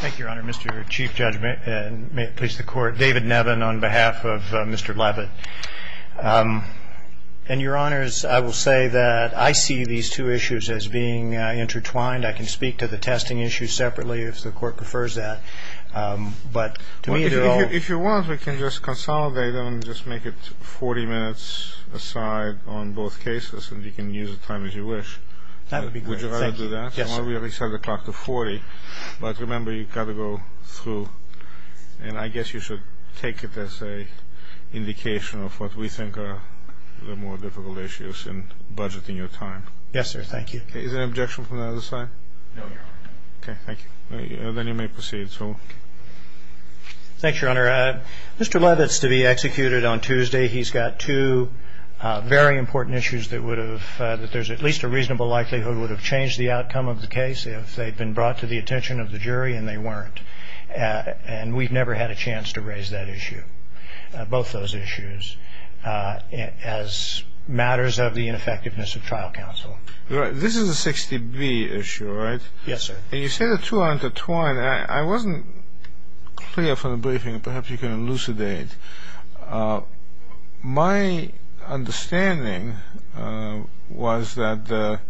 Thank you, Your Honor. Mr. Chief Judge, and may it please the Court, David Nevin on behalf of Mr. Leavitt. And, Your Honors, I will say that I see these two issues as being intertwined. I can speak to the testing issue separately if the Court prefers that, but to me they're all... Well, if you want, we can just consolidate them and just make it 40 minutes aside on both cases, and you can use the time as you wish. That would be great, thank you. Would you rather do that? Yes, sir. Well, we already set the clock to 40, but remember you've got to go through. And I guess you should take it as an indication of what we think are the more difficult issues in budgeting your time. Yes, sir, thank you. Is there an objection from the other side? No, Your Honor. Okay, thank you. Then you may proceed. Thanks, Your Honor. Mr. Leavitt's to be executed on Tuesday. He's got two very important issues that would have... that there's at least a reasonable likelihood would have changed the outcome of the case if they'd been brought to the attention of the jury, and they weren't. And we've never had a chance to raise that issue, both those issues, as matters of the ineffectiveness of trial counsel. This is a 60B issue, right? Yes, sir. And you say the two are intertwined. I mean, I wasn't clear from the briefing, perhaps you can elucidate. My understanding was that the...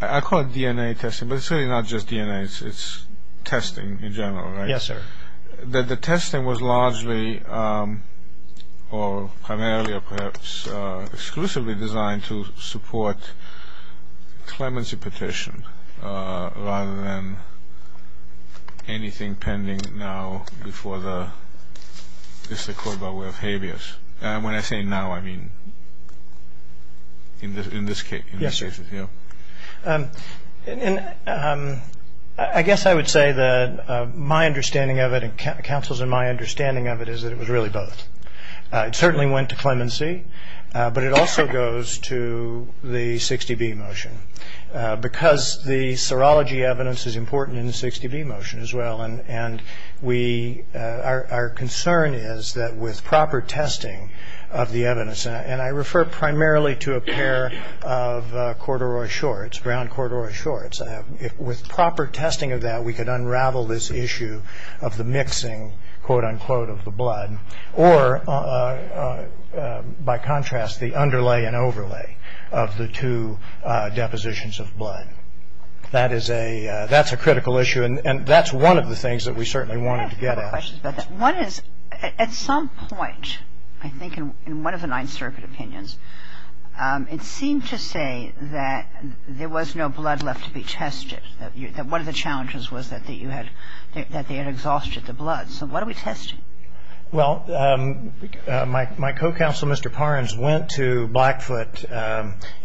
I call it DNA testing, but it's really not just DNA. It's testing in general, right? Yes, sir. That the testing was largely, or primarily, or perhaps exclusively designed to support clemency petition rather than anything pending now before the... It's the court by way of habeas. When I say now, I mean in this case. Yes, sir. And I guess I would say that my understanding of it, and counsel's and my understanding of it is that it was really both. It certainly went to clemency, but it also goes to the 60B motion because the serology evidence is important in the 60B motion as well, and our concern is that with proper testing of the evidence, and I refer primarily to a pair of corduroy shorts, brown corduroy shorts. With proper testing of that, we could unravel this issue of the mixing, quote, unquote, of the blood, or by contrast, the underlay and overlay of the two depositions of blood. That's a critical issue, and that's one of the things that we certainly wanted to get at. I have a couple of questions about that. One is, at some point, I think in one of the Ninth Circuit opinions, it seemed to say that there was no blood left to be tested, that one of the challenges was that they had exhausted the blood. So what are we testing? Well, my co-counsel, Mr. Parnes, went to Blackfoot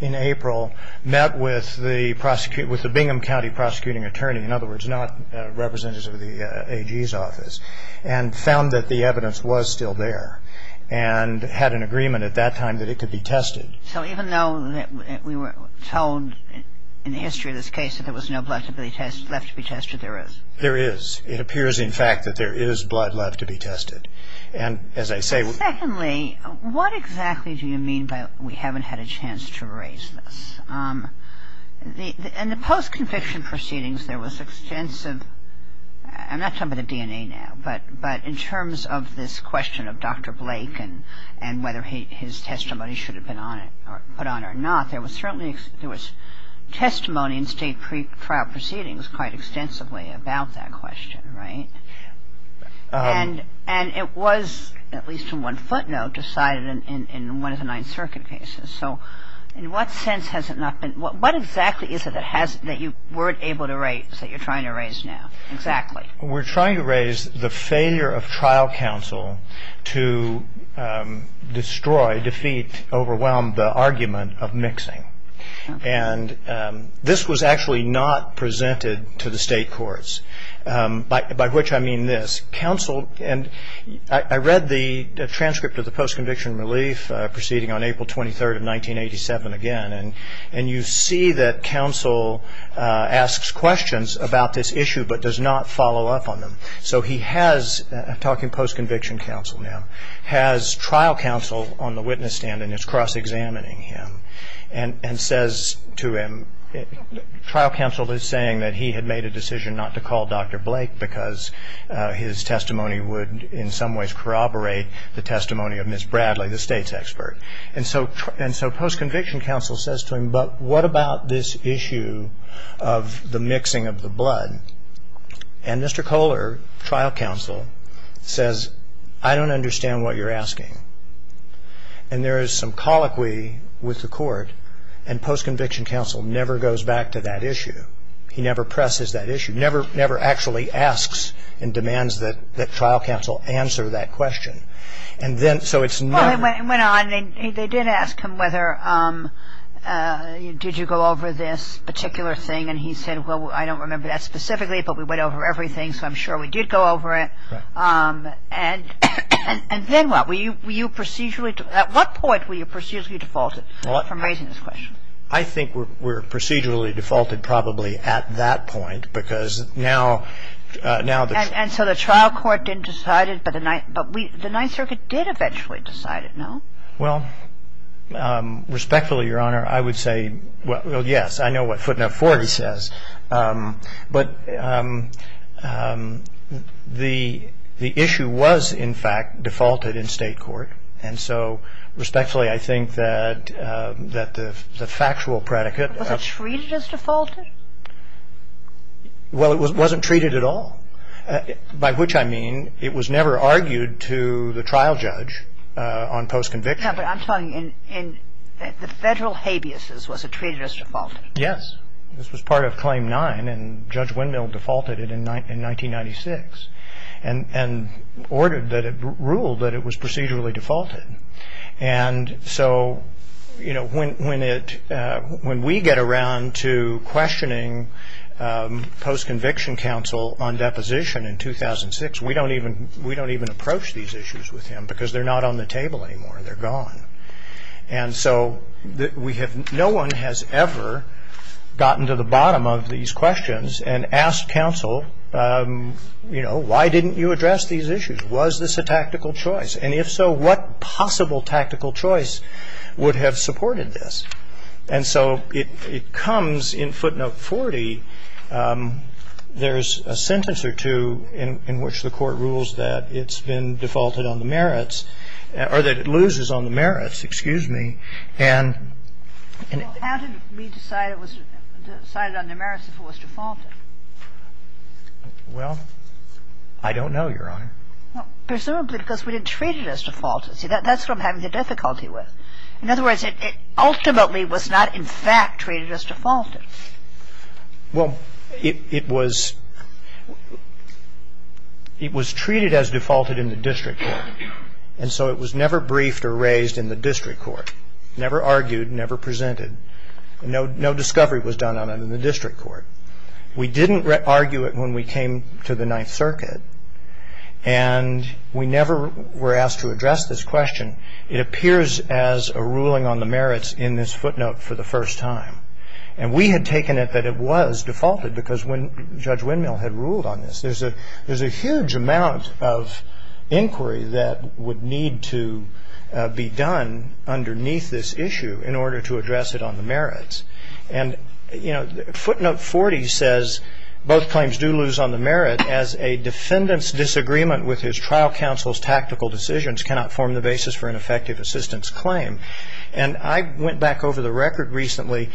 in April, met with the Bingham County prosecuting attorney, in other words, not representatives of the AG's office, and found that the evidence was still there, and had an agreement at that time that it could be tested. So even though we were told in the history of this case that there was no blood left to be tested, there is? There is. It appears, in fact, that there is blood left to be tested. And as I say... Secondly, what exactly do you mean by we haven't had a chance to erase this? In the post-conviction proceedings, there was extensive... I'm not talking about the DNA now, but in terms of this question of Dr. Blake and whether his testimony should have been put on or not, there was testimony in state pre-trial proceedings quite extensively about that question, right? And it was, at least in one footnote, decided in one of the Ninth Circuit cases. So in what sense has it not been... What exactly is it that you weren't able to erase that you're trying to erase now? Exactly. We're trying to erase the failure of trial counsel to destroy, defeat, overwhelm the argument of mixing. And this was actually not presented to the state courts, by which I mean this. I read the transcript of the post-conviction relief proceeding on April 23rd of 1987 again, and you see that counsel asks questions about this issue but does not follow up on them. So he has, I'm talking post-conviction counsel now, has trial counsel on the witness stand and is cross-examining him and says to him... His testimony would in some ways corroborate the testimony of Ms. Bradley, the state's expert. And so post-conviction counsel says to him, but what about this issue of the mixing of the blood? And Mr. Kohler, trial counsel, says, I don't understand what you're asking. And there is some colloquy with the court, and post-conviction counsel never goes back to that issue. He never presses that issue, never actually asks and demands that trial counsel answer that question. And then, so it's never... Well, it went on. They did ask him whether, did you go over this particular thing, and he said, well, I don't remember that specifically, but we went over everything, so I'm sure we did go over it. Right. And then what? Were you procedurally, at what point were you procedurally defaulted from raising this question? I think we were procedurally defaulted probably at that point, because now... And so the trial court didn't decide it, but the Ninth Circuit did eventually decide it, no? Well, respectfully, Your Honor, I would say, well, yes, I know what footnote 4 says. But the issue was, in fact, defaulted in state court. And so respectfully, I think that the factual predicate... Was it treated as defaulted? Well, it wasn't treated at all, by which I mean it was never argued to the trial judge on post-conviction. Yeah, but I'm talking in the federal habeas, was it treated as defaulted? Yes. This was part of Claim 9, and Judge Windmill defaulted it in 1996 and ruled that it was procedurally defaulted. And so when we get around to questioning post-conviction counsel on deposition in 2006, we don't even approach these issues with him, because they're not on the table anymore. They're gone. And so no one has ever gotten to the bottom of these questions and asked counsel, you know, why didn't you address these issues? Was this a tactical choice? And if so, what possible tactical choice would have supported this? And so it comes in footnote 40. There's a sentence or two in which the court rules that it's been defaulted on the merits or that it loses on the merits, excuse me. Well, how did we decide it was decided on the merits if it was defaulted? Well, I don't know, Your Honor. Presumably because we didn't treat it as defaulted. See, that's what I'm having difficulty with. In other words, it ultimately was not in fact treated as defaulted. Well, it was treated as defaulted in the district court, and so it was never briefed or raised in the district court, never argued, never presented. No discovery was done on it in the district court. We didn't argue it when we came to the Ninth Circuit, and we never were asked to address this question. It appears as a ruling on the merits in this footnote for the first time. And we had taken it that it was defaulted because Judge Windmill had ruled on this. There's a huge amount of inquiry that would need to be done underneath this issue in order to address it on the merits. And, you know, footnote 40 says both claims do lose on the merit as a defendant's disagreement with his trial counsel's tactical decisions cannot form the basis for an effective assistance claim. And I went back over the record recently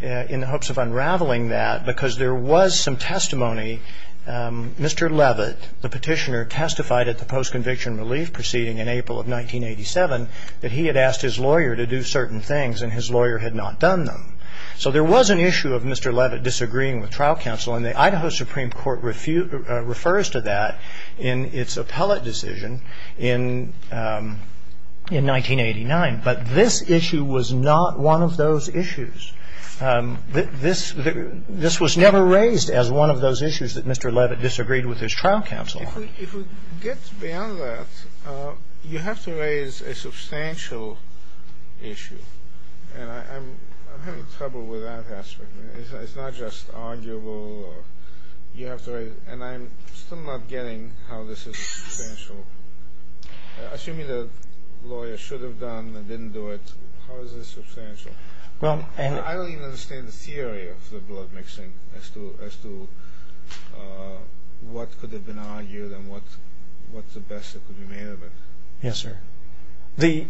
in the hopes of unraveling that because there was some testimony. Mr. Levitt, the petitioner, testified at the post-conviction relief proceeding in April of 1987 that he had asked his lawyer to do certain things, and his lawyer had not done them. So there was an issue of Mr. Levitt disagreeing with trial counsel, and the Idaho Supreme Court refers to that in its appellate decision in 1989. But this issue was not one of those issues. This was never raised as one of those issues that Mr. Levitt disagreed with his trial counsel on. If we get beyond that, you have to raise a substantial issue. And I'm having trouble with that aspect. It's not just arguable. You have to raise it. And I'm still not getting how this is substantial. Assuming the lawyer should have done and didn't do it, how is this substantial? I don't even understand the theory of the blood mixing as to what could have been argued and what's the best that could be made of it. Yes, sir. It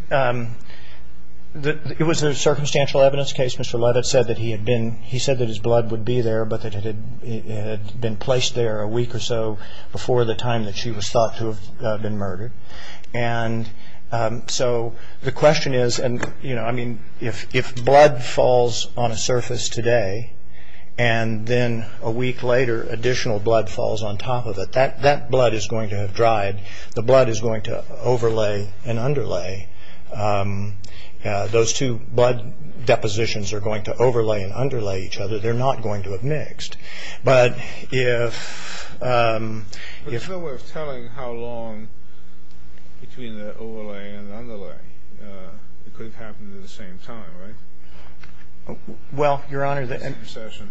was a circumstantial evidence case. Mr. Levitt said that he had been he said that his blood would be there, but that it had been placed there a week or so before the time that she was thought to have been murdered. And so the question is, and, you know, I mean, if blood falls on a surface today and then a week later additional blood falls on top of it, that blood is going to have dried. The blood is going to overlay and underlay. Those two blood depositions are going to overlay and underlay each other. They're not going to have mixed. But if There's no way of telling how long between the overlay and the underlay. It could have happened at the same time, right? Well, Your Honor, The same session.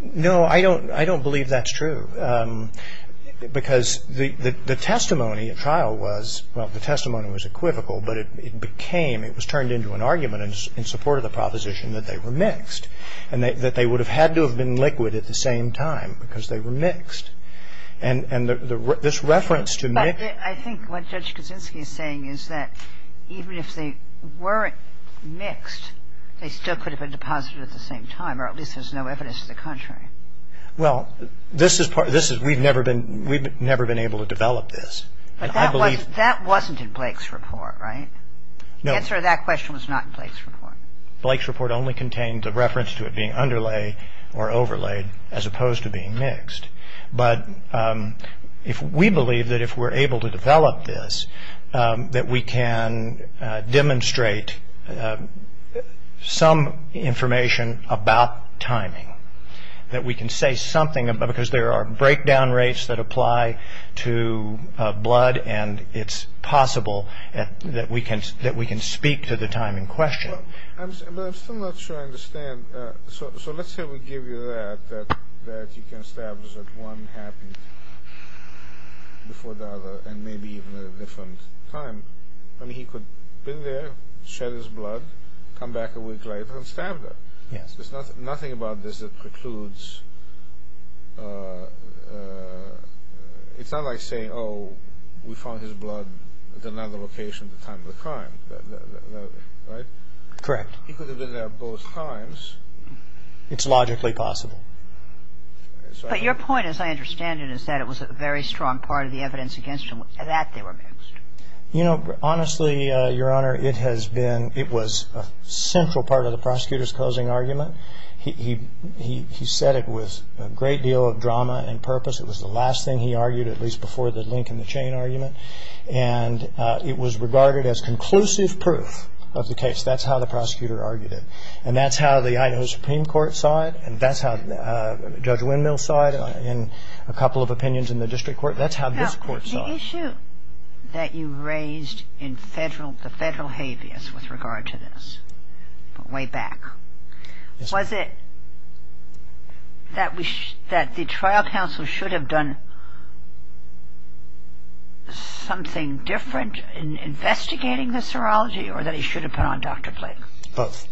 No, I don't believe that's true. Because the testimony at trial was, well, the testimony was equivocal, but it became, it was turned into an argument in support of the proposition that they were mixed and that they would have had to have been liquid at the same time because they were mixed. And this reference to mixed But I think what Judge Kaczynski is saying is that even if they weren't mixed, they still could have been deposited at the same time, or at least there's no evidence to the contrary. Well, this is part, this is, we've never been, we've never been able to develop this. But that wasn't in Blake's report, right? No. The answer to that question was not in Blake's report. Blake's report only contained the reference to it being underlay or overlaid as opposed to being mixed. But if we believe that if we're able to develop this, that we can demonstrate some information about timing, that we can say something, because there are breakdown rates that apply to blood, and it's possible that we can speak to the time in question. But I'm still not sure I understand. So let's say we give you that, that you can establish that one happened before the other, and maybe even at a different time. I mean, he could have been there, shed his blood, come back a week later, and stabbed her. Yes. There's nothing about this that precludes, it's not like saying, oh, we found his blood at another location at the time of the crime, right? Correct. He could have been there both times. It's logically possible. But your point, as I understand it, is that it was a very strong part of the evidence against him that they were mixed. You know, honestly, Your Honor, it has been, it was a central part of the prosecutor's closing argument. He said it with a great deal of drama and purpose. It was the last thing he argued, at least before the link in the chain argument. And it was regarded as conclusive proof of the case. That's how the prosecutor argued it. And that's how the Idaho Supreme Court saw it, and that's how Judge Windmill saw it in a couple of opinions in the district court. That's how this court saw it. The issue that you raised in the federal habeas with regard to this, way back, was it that the trial counsel should have done something different in investigating the serology or that he should have put on Dr. Blake? Both.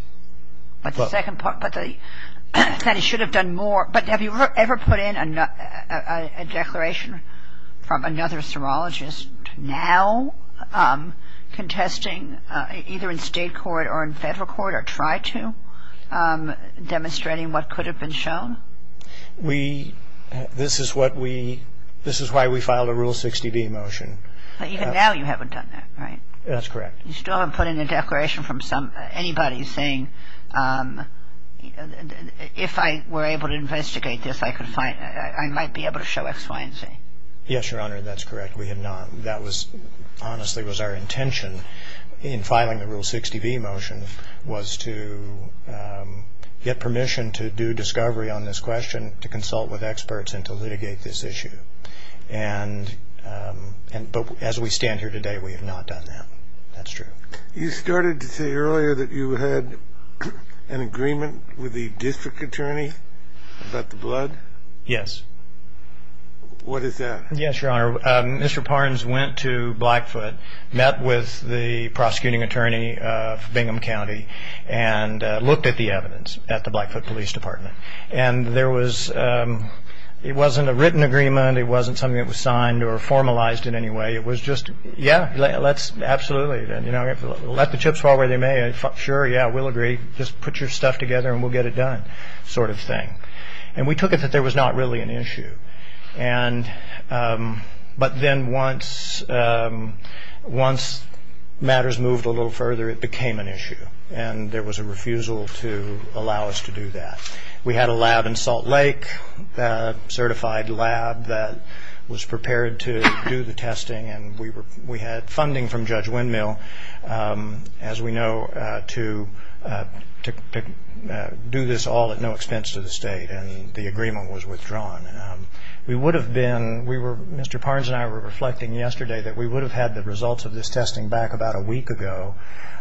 But the second part, that he should have done more. But have you ever put in a declaration from another serologist now, contesting either in state court or in federal court or tried to, demonstrating what could have been shown? We, this is what we, this is why we filed a Rule 60B motion. But even now you haven't done that, right? That's correct. You still haven't put in a declaration from anybody saying, if I were able to investigate this I might be able to show X, Y, and Z. Yes, Your Honor, that's correct. We have not. That was, honestly, was our intention in filing the Rule 60B motion was to get permission to do discovery on this question, to consult with experts and to litigate this issue. But as we stand here today we have not done that. That's true. You started to say earlier that you had an agreement with the district attorney about the blood? Yes. What is that? Yes, Your Honor. Mr. Parnes went to Blackfoot, met with the prosecuting attorney for Bingham County, and looked at the evidence at the Blackfoot Police Department. And it wasn't a written agreement. It wasn't something that was signed or formalized in any way. It was just, yeah, absolutely, let the chips fall where they may. Sure, yeah, we'll agree. Just put your stuff together and we'll get it done sort of thing. And we took it that there was not really an issue. But then once matters moved a little further it became an issue, and there was a refusal to allow us to do that. We had a lab in Salt Lake, a certified lab that was prepared to do the testing, and we had funding from Judge Windmill, as we know, to do this all at no expense to the state, and the agreement was withdrawn. We would have been, Mr. Parnes and I were reflecting yesterday that we would have had the results of this testing back about a week ago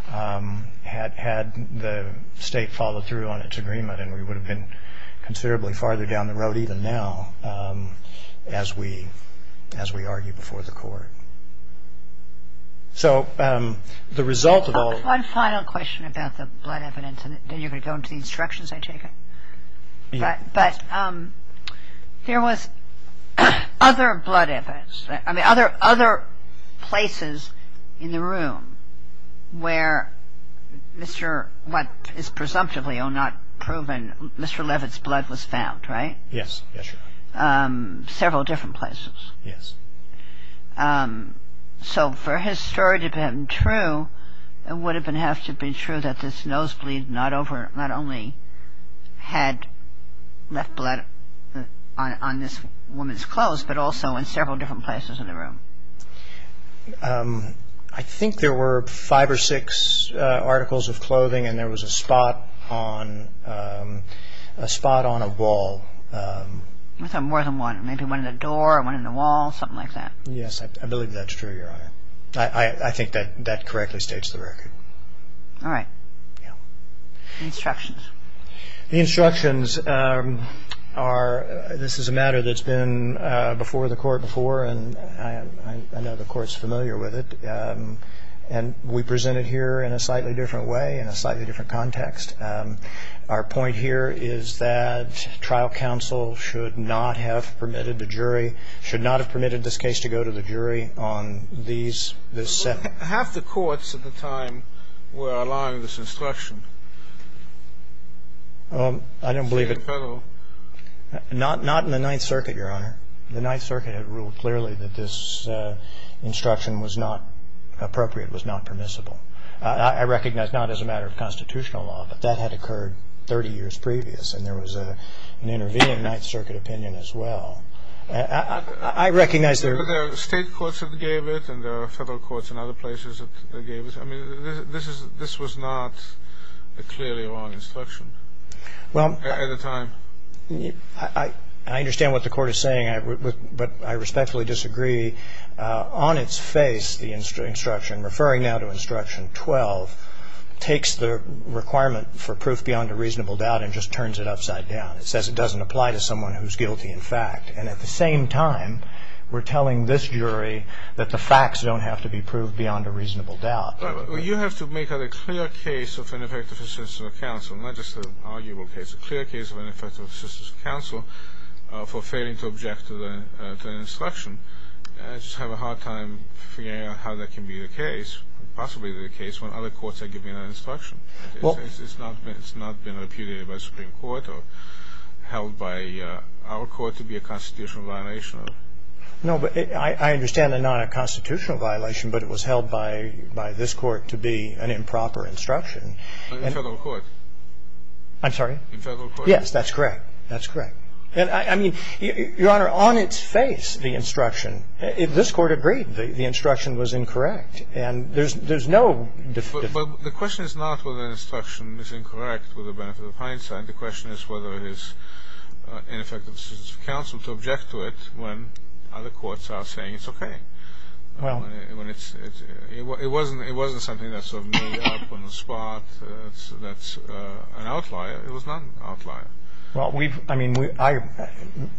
had the state followed through on its agreement, and we would have been considerably farther down the road even now as we argued before the court. So the result of all of this. One final question about the blood evidence, and then you can go into the instructions I take. Yes. There was other blood evidence, I mean other places in the room where Mr., what is presumptively or not proven, Mr. Levitt's blood was found, right? Yes. Several different places. Yes. So for his story to have been true, it would have to have been true that this nosebleed not only had left blood on this woman's clothes, but also in several different places in the room. I think there were five or six articles of clothing, and there was a spot on a wall. More than one. Maybe one in the door, one in the wall, something like that. Yes, I believe that's true, Your Honor. I think that correctly states the record. All right. Yes. Instructions. The instructions are, this is a matter that's been before the court before, and I know the court's familiar with it, and we present it here in a slightly different way, in a slightly different context. Our point here is that trial counsel should not have permitted the jury, Half the courts at the time were allowing this instruction. I don't believe it. Not in the Ninth Circuit, Your Honor. The Ninth Circuit had ruled clearly that this instruction was not appropriate, was not permissible. I recognize not as a matter of constitutional law, but that had occurred 30 years previous, and there was an intervening Ninth Circuit opinion as well. There are state courts that gave it, and there are federal courts in other places that gave it. I mean, this was not a clearly wrong instruction at the time. I understand what the court is saying, but I respectfully disagree. On its face, the instruction, referring now to Instruction 12, takes the requirement for proof beyond a reasonable doubt and just turns it upside down. It says it doesn't apply to someone who's guilty in fact, and at the same time we're telling this jury that the facts don't have to be proved beyond a reasonable doubt. Well, you have to make a clear case of ineffective assistance of counsel, not just an arguable case, a clear case of ineffective assistance of counsel for failing to object to the instruction. I just have a hard time figuring out how that can be the case, possibly the case when other courts are giving that instruction. It's not been repudiated by the Supreme Court or held by our court to be a constitutional violation. No, but I understand they're not a constitutional violation, but it was held by this Court to be an improper instruction. In federal court. I'm sorry? In federal court. Yes, that's correct. That's correct. And I mean, Your Honor, on its face, the instruction, this Court agreed the instruction was incorrect, and there's no defeat. But the question is not whether the instruction is incorrect with the benefit of hindsight. The question is whether it is ineffective assistance of counsel to object to it when other courts are saying it's okay. It wasn't something that sort of made up on the spot. That's an outlier. It was not an outlier. Well, I mean, I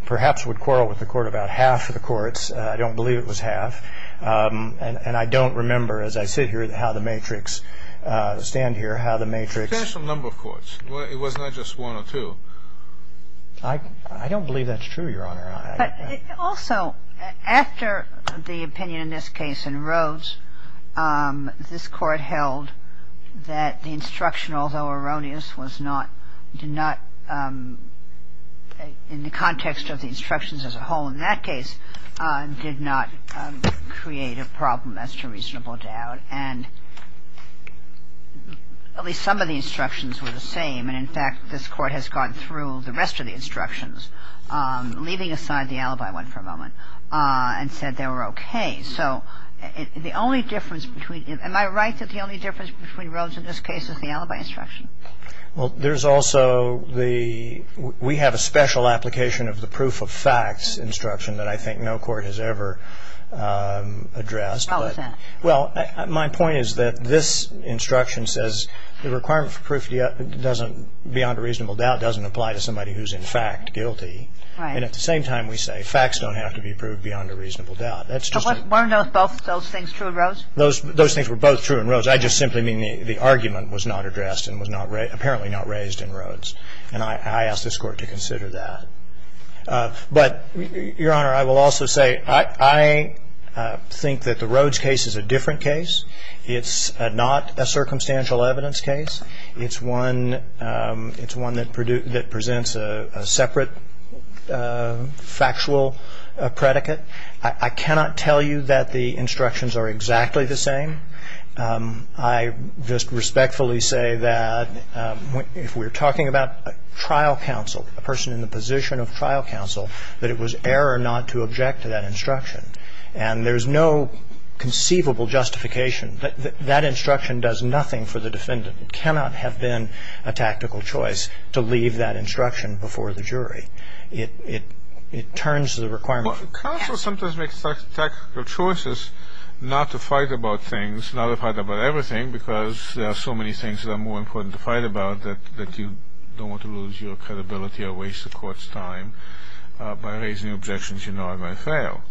perhaps would quarrel with the Court about half of the courts. I don't believe it was half. And I don't remember, as I sit here, how the matrix, stand here, how the matrix. A substantial number of courts. It was not just one or two. I don't believe that's true, Your Honor. Also, after the opinion in this case in Rhodes, this Court held that the instruction, although erroneous, was not, did not, in the context of the instructions as a whole in that case, did not create a problem as to reasonable doubt. And at least some of the instructions were the same. And, in fact, this Court has gone through the rest of the instructions, leaving aside the alibi one for a moment, and said they were okay. So the only difference between, am I right that the only difference between Rhodes and this case is the alibi instruction? Well, there's also the, we have a special application of the proof of facts instruction that I think no court has ever addressed. How is that? Well, my point is that this instruction says the requirement for proof beyond a reasonable doubt doesn't apply to somebody who's, in fact, guilty. Right. And at the same time, we say facts don't have to be proved beyond a reasonable doubt. But weren't both those things true in Rhodes? Those things were both true in Rhodes. I just simply mean the argument was not addressed and was apparently not raised in Rhodes. And I ask this Court to consider that. But, Your Honor, I will also say I think that the Rhodes case is a different case. It's not a circumstantial evidence case. It's one that presents a separate factual predicate. I cannot tell you that the instructions are exactly the same. I just respectfully say that if we're talking about a trial counsel, a person in the position of trial counsel, that it was error not to object to that instruction. And there's no conceivable justification. That instruction does nothing for the defendant. It cannot have been a tactical choice to leave that instruction before the jury. It turns the requirement from the case. Counsel sometimes makes tactical choices not to fight about things, not to fight about everything because there are so many things that are more important to fight about that you don't want to lose your credibility or waste the Court's time by raising objections you know are going to fail.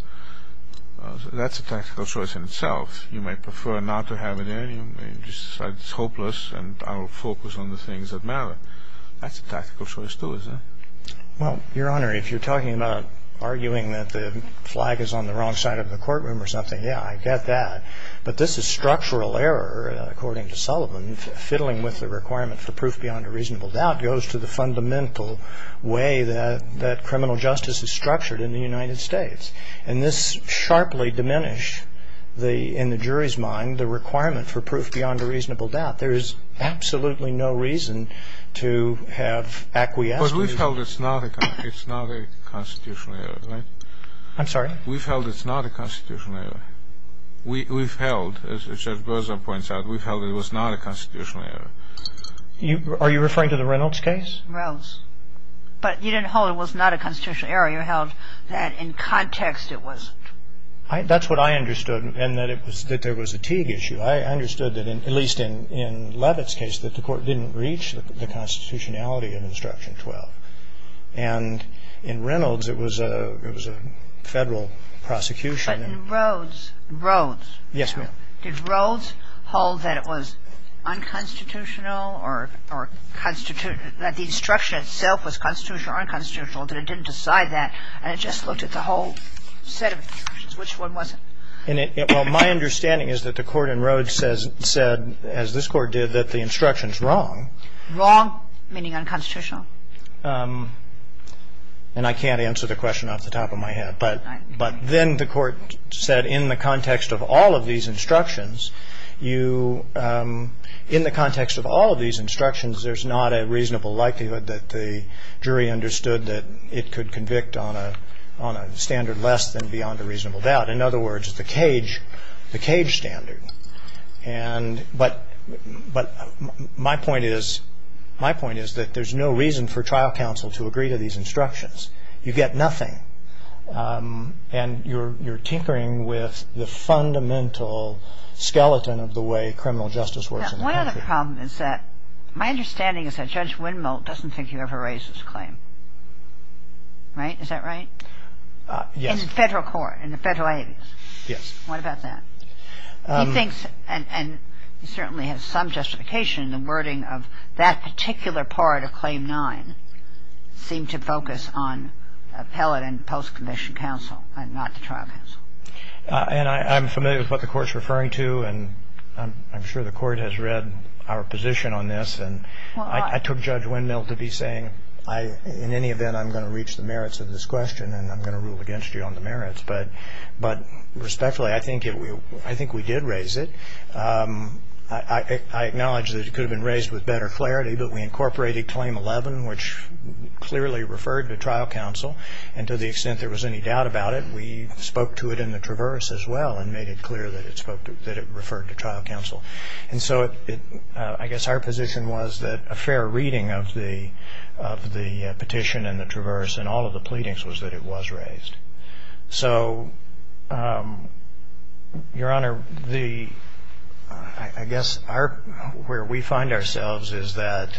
That's a tactical choice in itself. You might prefer not to have it in. You may decide it's hopeless and I'll focus on the things that matter. That's a tactical choice too, isn't it? Well, Your Honor, if you're talking about arguing that the flag is on the wrong side of the courtroom or something, yeah, I get that. But this is structural error, according to Sullivan. Fiddling with the requirement for proof beyond a reasonable doubt goes to the fundamental way that criminal justice is structured in the United States. And this sharply diminished in the jury's mind the requirement for proof beyond a reasonable doubt. There is absolutely no reason to have acquiescence. But we've held it's not a constitutional error, right? I'm sorry? We've held it's not a constitutional error. We've held, as Judge Berza points out, we've held it was not a constitutional error. Are you referring to the Reynolds case? Reynolds. But you didn't hold it was not a constitutional error. You held that in context it wasn't. That's what I understood and that there was a Teague issue. I understood that, at least in Levitt's case, that the court didn't reach the constitutionality of Instruction 12. And in Reynolds it was a federal prosecution. But in Rhodes, Rhodes. Yes, ma'am. Did Rhodes hold that it was unconstitutional or that the instruction itself was constitutional or unconstitutional, that it didn't decide that, and it just looked at the whole set of instructions? Which one was it? Well, my understanding is that the court in Rhodes said, as this Court did, that the instruction's wrong. Wrong, meaning unconstitutional. And I can't answer the question off the top of my head. But then the court said in the context of all of these instructions, you – in the context of all of these instructions, there's not a reasonable likelihood that the jury understood that it could convict on a standard less than beyond a reasonable doubt. In other words, the Teague standard. And – but my point is, my point is that there's no reason for trial counsel to agree to these instructions. You get nothing. And you're tinkering with the fundamental skeleton of the way criminal justice works in the country. One other problem is that my understanding is that Judge Windmull doesn't think he ever raised this claim. Right? Is that right? Yes. He's in federal court, in the federal agencies. Yes. What about that? He thinks – and he certainly has some justification in the wording of that particular part of Claim 9 seemed to focus on appellate and post-conviction counsel and not the trial counsel. And I'm familiar with what the Court's referring to, and I'm sure the Court has read our position on this. And I took Judge Windmull to be saying, in any event, I'm going to reach the merits of this question and I'm going to rule against you on the merits. But respectfully, I think we did raise it. I acknowledge that it could have been raised with better clarity, but we incorporated Claim 11, which clearly referred to trial counsel. And to the extent there was any doubt about it, we spoke to it in the traverse as well and made it clear that it referred to trial counsel. And so I guess our position was that a fair reading of the petition and the traverse and all of the pleadings was that it was raised. So, Your Honor, I guess where we find ourselves is that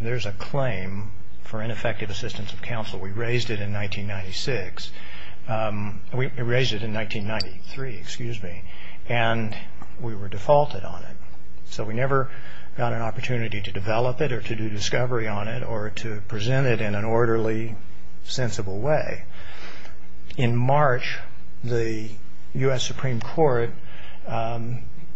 there's a claim for ineffective assistance of counsel. We raised it in 1996 – we raised it in 1993, excuse me. And we were defaulted on it. So we never got an opportunity to develop it or to do discovery on it or to present it in an orderly, sensible way. In March, the U.S. Supreme Court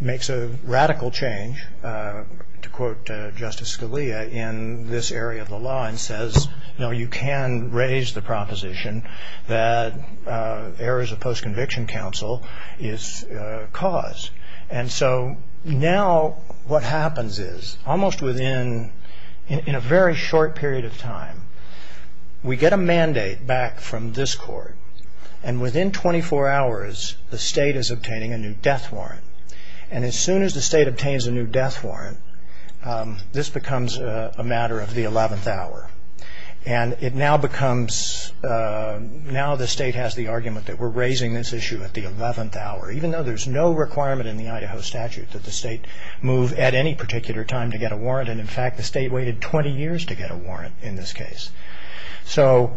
makes a radical change to quote Justice Scalia in this area of the law and says, you know, you can raise the proposition that errors of post-conviction counsel is cause. And so now what happens is almost within – in a very short period of time, we get a mandate back from this court. And within 24 hours, the state is obtaining a new death warrant. And as soon as the state obtains a new death warrant, this becomes a matter of the 11th hour. And it now becomes – now the state has the argument that we're raising this issue at the 11th hour, even though there's no requirement in the Idaho statute that the state move at any particular time to get a warrant. And, in fact, the state waited 20 years to get a warrant in this case. So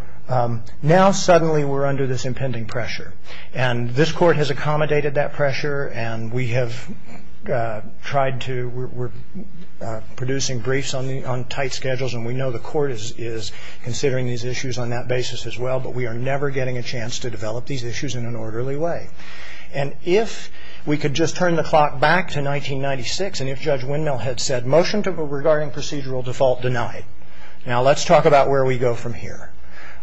now suddenly we're under this impending pressure. And this court has accommodated that pressure, and we have tried to – we're producing briefs on tight schedules, and we know the court is considering these issues on that basis as well, but we are never getting a chance to develop these issues in an orderly way. And if we could just turn the clock back to 1996, and if Judge Windmill had said, motion regarding procedural default denied, now let's talk about where we go from here.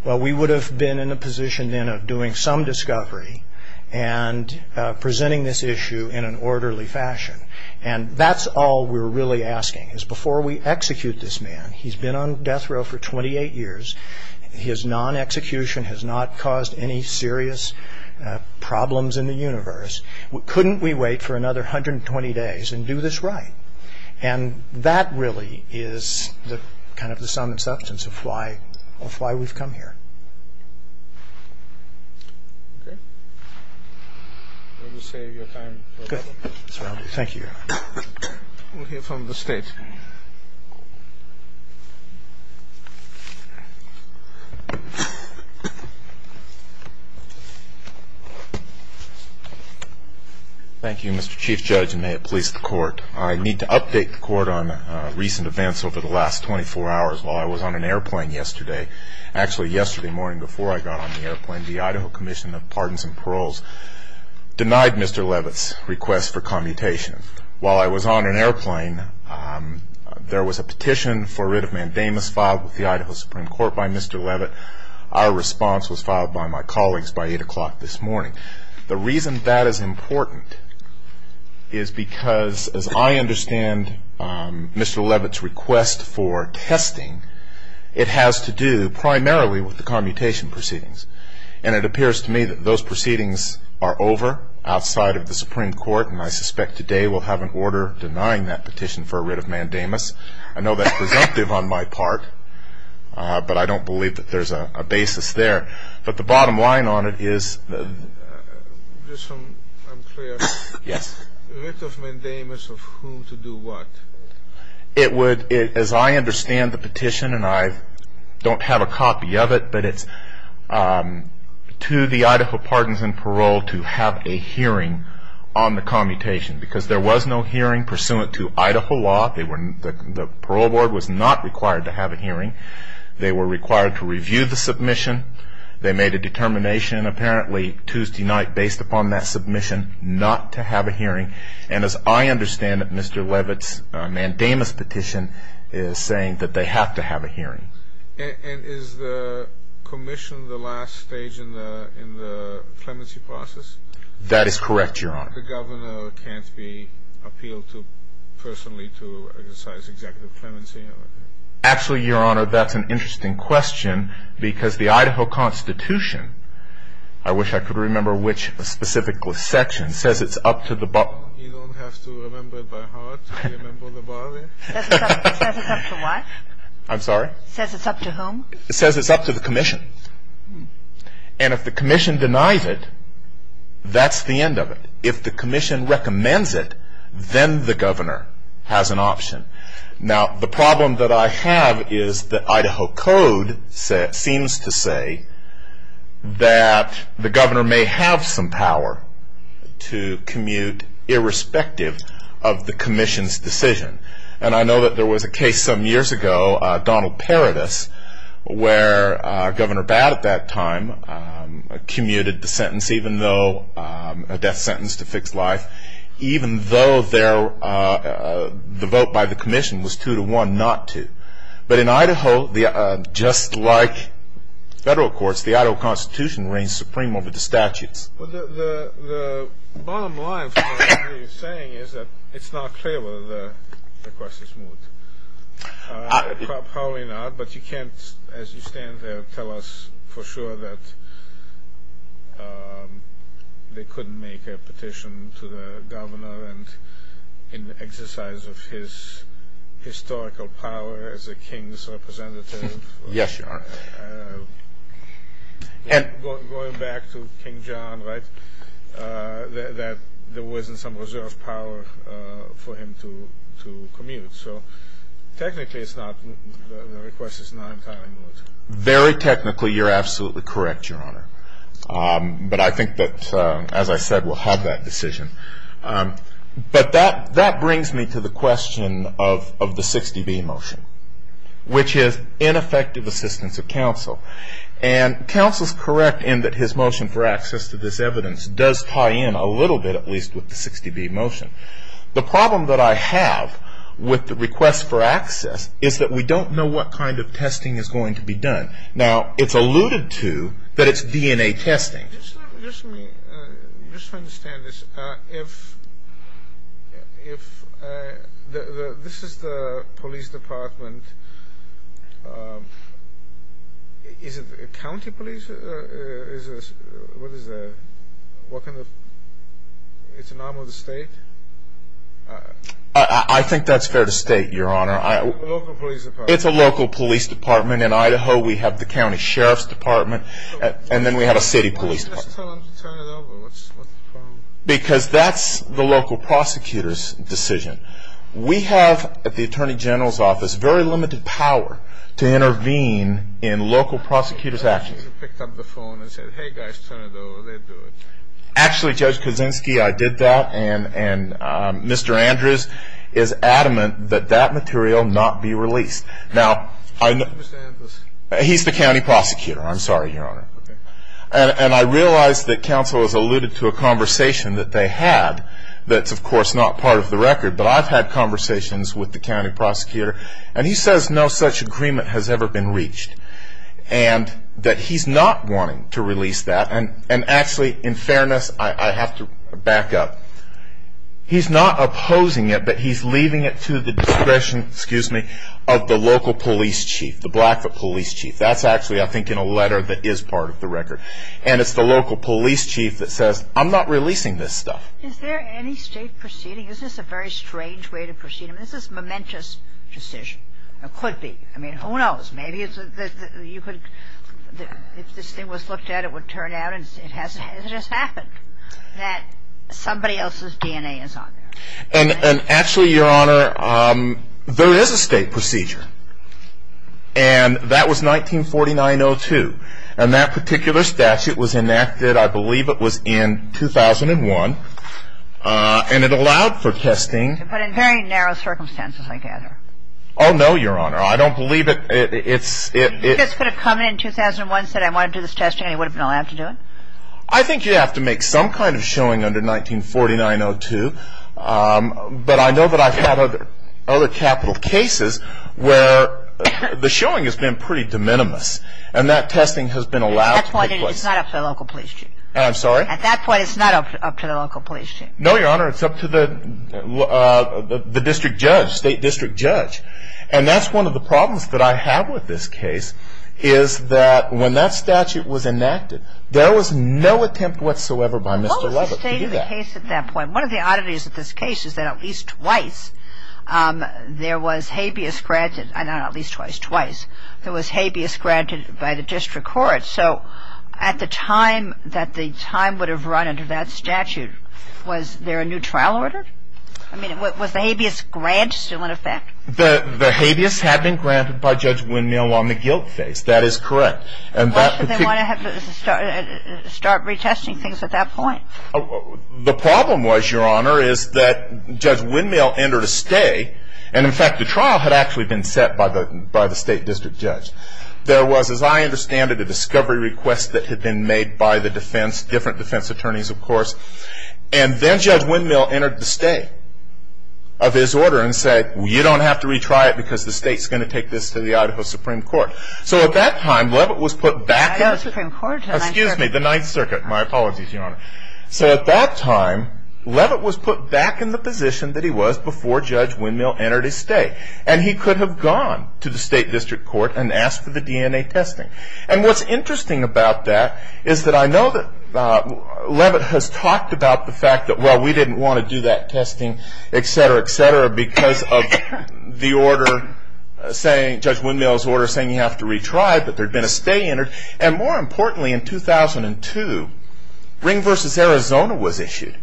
Well, we would have been in a position then of doing some discovery and presenting this issue in an orderly fashion. And that's all we're really asking, is before we execute this man – he's been on death row for 28 years. His non-execution has not caused any serious problems in the universe. Couldn't we wait for another 120 days and do this right? And that really is the kind of the sum and substance of why we've come here. Okay. We'll just save your time. Good. Thank you. We'll hear from the State. Thank you, Mr. Chief Judge, and may it please the Court. I need to update the Court on recent events over the last 24 hours. While I was on an airplane yesterday – actually, yesterday morning before I got on the airplane, the Idaho Commission of Pardons and Paroles denied Mr. Levitt's request for commutation. While I was on an airplane, there was a petition for writ of mandamus filed with the Idaho Supreme Court by Mr. Levitt. Our response was filed by my colleagues by 8 o'clock this morning. The reason that is important is because, as I understand Mr. Levitt's request for testing, it has to do primarily with the commutation proceedings. And it appears to me that those proceedings are over outside of the Supreme Court, and I suspect today we'll have an order denying that petition for a writ of mandamus. I know that's presumptive on my part, but I don't believe that there's a basis there. But the bottom line on it is – Just so I'm clear. Yes. A writ of mandamus of whom to do what? It would – as I understand the petition, and I don't have a copy of it, but it's to the Idaho Pardons and Paroles to have a hearing on the commutation, because there was no hearing pursuant to Idaho law. The parole board was not required to have a hearing. They were required to review the submission. They made a determination apparently Tuesday night based upon that submission not to have a hearing. And as I understand it, Mr. Levitt's mandamus petition is saying that they have to have a hearing. And is the commission the last stage in the clemency process? That is correct, Your Honor. The governor can't be appealed to personally to exercise executive clemency? Actually, Your Honor, that's an interesting question, because the Idaho Constitution – I wish I could remember which specific section – says it's up to the – You don't have to remember by heart to remember the body? It says it's up to what? I'm sorry? It says it's up to whom? It says it's up to the commission. And if the commission denies it, that's the end of it. If the commission recommends it, then the governor has an option. Now, the problem that I have is that Idaho code seems to say that the governor may have some power to commute irrespective of the commission's decision. And I know that there was a case some years ago, Donald Paradis, where Governor Batt at that time commuted the sentence even though – the commission was two to one, not two. But in Idaho, just like federal courts, the Idaho Constitution reigns supreme over the statutes. The bottom line for what you're saying is that it's not clear whether the request is moved. Probably not, but you can't, as you stand there, tell us for sure that they couldn't make a petition to the governor in the exercise of his historical power as a king's representative. Yes, Your Honor. Going back to King John, right, that there wasn't some reserve power for him to commute. So technically it's not – the request is not entirely moved. Very technically, you're absolutely correct, Your Honor. But I think that, as I said, we'll have that decision. But that brings me to the question of the 60B motion, which is ineffective assistance of counsel. And counsel's correct in that his motion for access to this evidence does tie in a little bit, at least, with the 60B motion. The problem that I have with the request for access is that we don't know what kind of testing is going to be done. Now, it's alluded to that it's DNA testing. Just let me understand this. If this is the police department, is it county police? What kind of – it's an arm of the state? I think that's fair to state, Your Honor. It's a local police department. In Idaho, we have the county sheriff's department, and then we have a city police department. Why didn't you just tell them to turn it over? Because that's the local prosecutor's decision. We have, at the Attorney General's office, very limited power to intervene in local prosecutor's actions. You should have picked up the phone and said, hey guys, turn it over, they'd do it. Actually, Judge Kuczynski, I did that, and Mr. Andrews is adamant that that material not be released. Now, he's the county prosecutor. I'm sorry, Your Honor. And I realize that counsel has alluded to a conversation that they had that's, of course, not part of the record, but I've had conversations with the county prosecutor, and he says no such agreement has ever been reached, and that he's not wanting to release that. And actually, in fairness, I have to back up. He's not opposing it, but he's leaving it to the discretion, excuse me, of the local police chief, the Blackfoot police chief. That's actually, I think, in a letter that is part of the record. And it's the local police chief that says, I'm not releasing this stuff. Is there any state proceeding? Is this a very strange way to proceed? I mean, this is a momentous decision. It could be. I mean, who knows? Maybe you could, if this thing was looked at, it would turn out, and it has just happened, that somebody else's DNA is on there. And actually, Your Honor, there is a state procedure. And that was 1949-02. And that particular statute was enacted, I believe it was in 2001, and it allowed for testing. But in very narrow circumstances, I gather. Oh, no, Your Honor. I don't believe it. If you just could have come in in 2001 and said, I want to do this testing, you would have been allowed to do it? I think you have to make some kind of showing under 1949-02. But I know that I've had other capital cases where the showing has been pretty de minimis. And that testing has been allowed. At that point, it's not up to the local police chief. I'm sorry? At that point, it's not up to the local police chief. No, Your Honor, it's up to the district judge, state district judge. And that's one of the problems that I have with this case, is that when that statute was enacted, there was no attempt whatsoever by Mr. Lovett to do that. What was the state of the case at that point? One of the oddities of this case is that at least twice, there was habeas granted. Not at least twice, twice. There was habeas granted by the district court. So at the time that the time would have run under that statute, was there a new trial order? I mean, was the habeas grant still in effect? The habeas had been granted by Judge Windmill on the guilt phase. That is correct. Why did they want to have to start retesting things at that point? The problem was, Your Honor, is that Judge Windmill entered a stay. And, in fact, the trial had actually been set by the state district judge. There was, as I understand it, a discovery request that had been made by the defense, different defense attorneys, of course. And then Judge Windmill entered the stay of his order and said, you don't have to retry it because the state is going to take this to the Idaho Supreme Court. So at that time, Lovett was put back. The Idaho Supreme Court? Excuse me, the Ninth Circuit. My apologies, Your Honor. So at that time, Lovett was put back in the position that he was before Judge Windmill entered his stay. And he could have gone to the state district court and asked for the DNA testing. And what's interesting about that is that I know that Lovett has talked about the fact that, well, we didn't want to do that testing, et cetera, et cetera, because of the order, Judge Windmill's order saying you have to retry, but there had been a stay entered. And more importantly, in 2002, Ring v. Arizona was issued.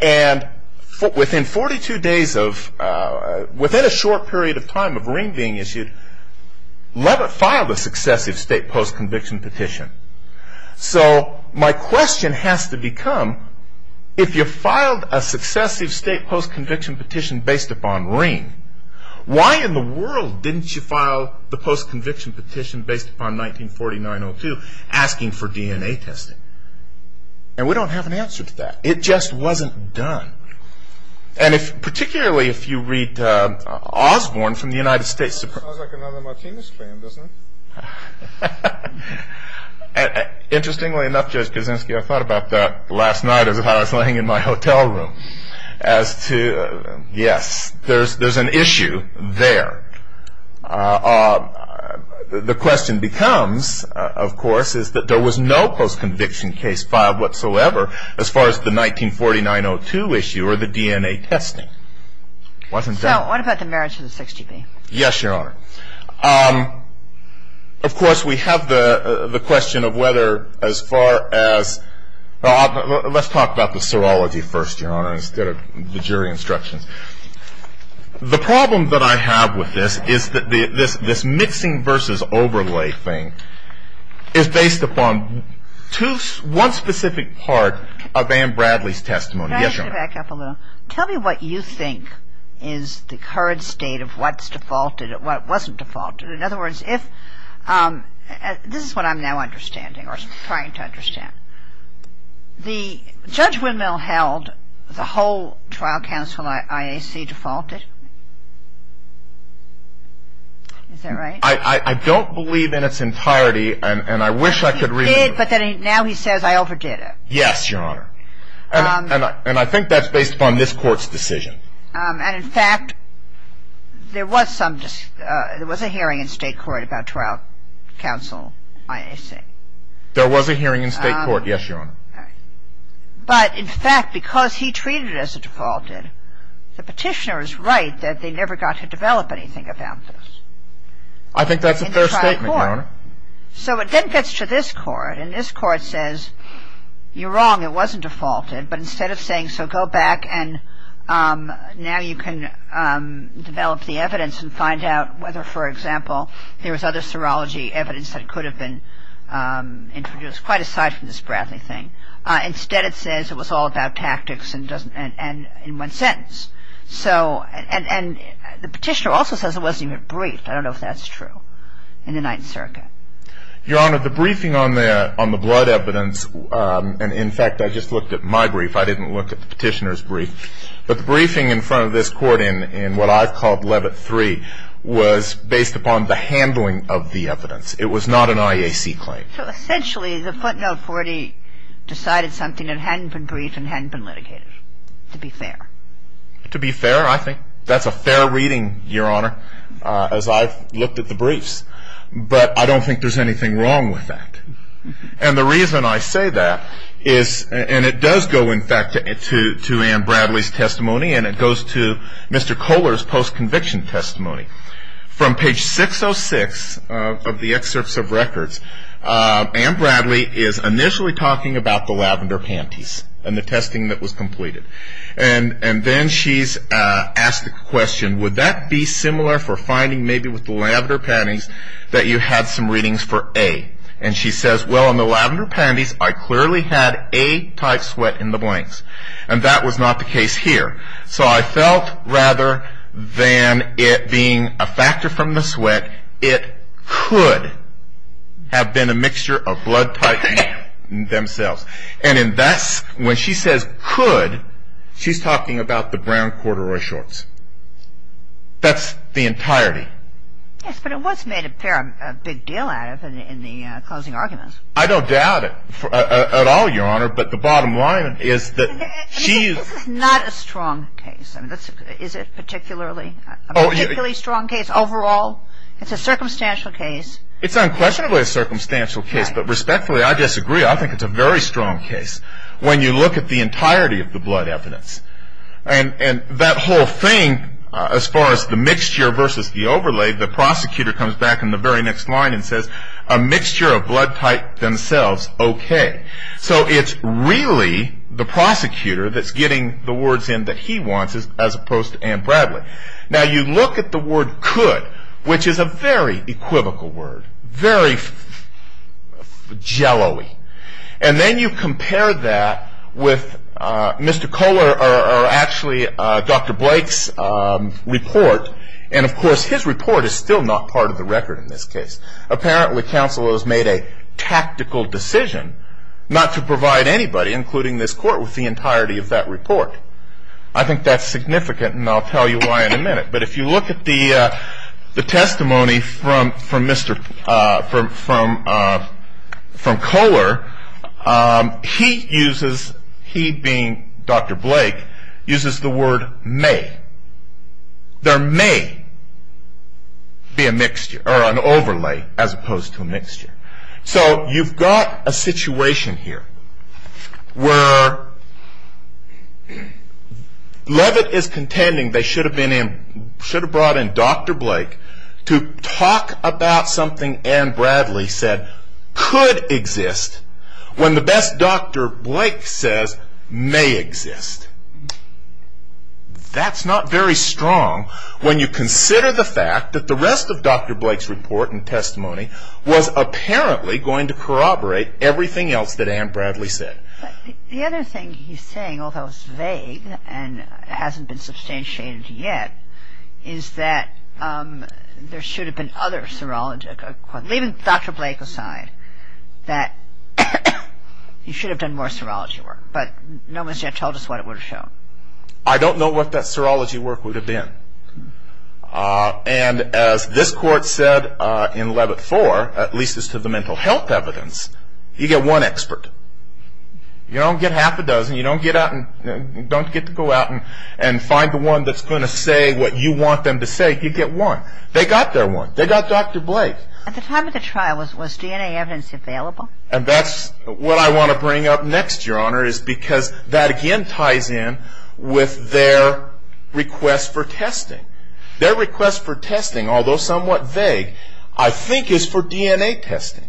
And within 42 days of, within a short period of time of Ring being issued, Lovett filed a successive state post-conviction petition. So my question has to become, if you filed a successive state post-conviction petition based upon Ring, why in the world didn't you file the post-conviction petition based upon 1949-02 asking for DNA testing? And we don't have an answer to that. It just wasn't done. And particularly if you read Osborne from the United States. Sounds like another Martinez fan, doesn't it? Interestingly enough, Judge Kuczynski, I thought about that last night as I was laying in my hotel room. As to, yes, there's an issue there. The question becomes, of course, is that there was no post-conviction case filed whatsoever as far as the 1949-02 issue or the DNA testing. So what about the merits of the 6GB? Yes, Your Honor. Of course, we have the question of whether as far as, let's talk about the serology first, Your Honor, instead of the jury instructions. The problem that I have with this is that this mixing versus overlay thing is based upon one specific part of Anne Bradley's testimony. Yes, Your Honor. Can I ask you to back up a little? Tell me what you think is the current state of what's defaulted, what wasn't defaulted. In other words, if this is what I'm now understanding or trying to understand. Judge Windmill held the whole trial counsel IAC defaulted. Is that right? I don't believe in its entirety, and I wish I could read it. But now he says, I overdid it. Yes, Your Honor. And I think that's based upon this Court's decision. And, in fact, there was a hearing in state court about trial counsel IAC. There was a hearing in state court, yes, Your Honor. But, in fact, because he treated it as a defaulted, the petitioner is right that they never got to develop anything about this. I think that's a fair statement, Your Honor. So it then gets to this Court, and this Court says, you're wrong, it wasn't defaulted. But instead of saying, so go back and now you can develop the evidence and find out whether, for example, there was other serology evidence that could have been introduced, quite aside from this Bradley thing. I don't know if that's true in the Ninth Circuit. Your Honor, the briefing on the blood evidence, and, in fact, I just looked at my brief. I didn't look at the petitioner's brief. But the briefing in front of this Court in what I've called Levitt III was based upon the handling of the evidence. It was not an IAC claim. So, essentially, the footnote 42, it hadn't been briefed and hadn't been litigated, to be fair. To be fair, I think that's a fair reading, Your Honor, as I've looked at the briefs. But I don't think there's anything wrong with that. And the reason I say that is, and it does go, in fact, to Anne Bradley's testimony, and it goes to Mr. Kohler's post-conviction testimony. From page 606 of the excerpts of records, Anne Bradley is initially talking about the lavender panties and the testing that was completed. And then she's asked the question, would that be similar for finding maybe with the lavender panties that you had some readings for A? And she says, well, on the lavender panties, I clearly had A-type sweat in the blanks. And that was not the case here. So I felt rather than it being a factor from the sweat, that it could have been a mixture of blood type B themselves. And in that, when she says could, she's talking about the brown corduroy shorts. That's the entirety. Yes, but it was made a big deal out of in the closing argument. I don't doubt it at all, Your Honor, but the bottom line is that she's – This is not a strong case. Is it a particularly strong case overall? It's a circumstantial case. It's unquestionably a circumstantial case. But respectfully, I disagree. I think it's a very strong case when you look at the entirety of the blood evidence. And that whole thing, as far as the mixture versus the overlay, the prosecutor comes back in the very next line and says a mixture of blood type themselves, okay. So it's really the prosecutor that's getting the words in that he wants as opposed to Ann Bradley. Now you look at the word could, which is a very equivocal word, very jello-y. And then you compare that with Mr. Kohler or actually Dr. Blake's report. And, of course, his report is still not part of the record in this case. Apparently counsel has made a tactical decision not to provide anybody, including this court, with the entirety of that report. I think that's significant, and I'll tell you why in a minute. But if you look at the testimony from Kohler, he uses, he being Dr. Blake, uses the word may. There may be a mixture or an overlay as opposed to a mixture. So you've got a situation here where Levitt is contending they should have brought in Dr. Blake to talk about something Ann Bradley said could exist when the best Dr. Blake says may exist. That's not very strong when you consider the fact that the rest of Dr. Blake's report and testimony was apparently going to corroborate everything else that Ann Bradley said. The other thing he's saying, although it's vague and hasn't been substantiated yet, is that there should have been other serology, leaving Dr. Blake aside, that he should have done more serology work. But no one's yet told us what it would have shown. I don't know what that serology work would have been. And as this court said in Levitt 4, at least as to the mental health evidence, you get one expert. You don't get half a dozen. You don't get to go out and find the one that's going to say what you want them to say. You get one. They got their one. They got Dr. Blake. At the time of the trial, was DNA evidence available? And that's what I want to bring up next, Your Honor, is because that again ties in with their request for testing. Their request for testing, although somewhat vague, I think is for DNA testing.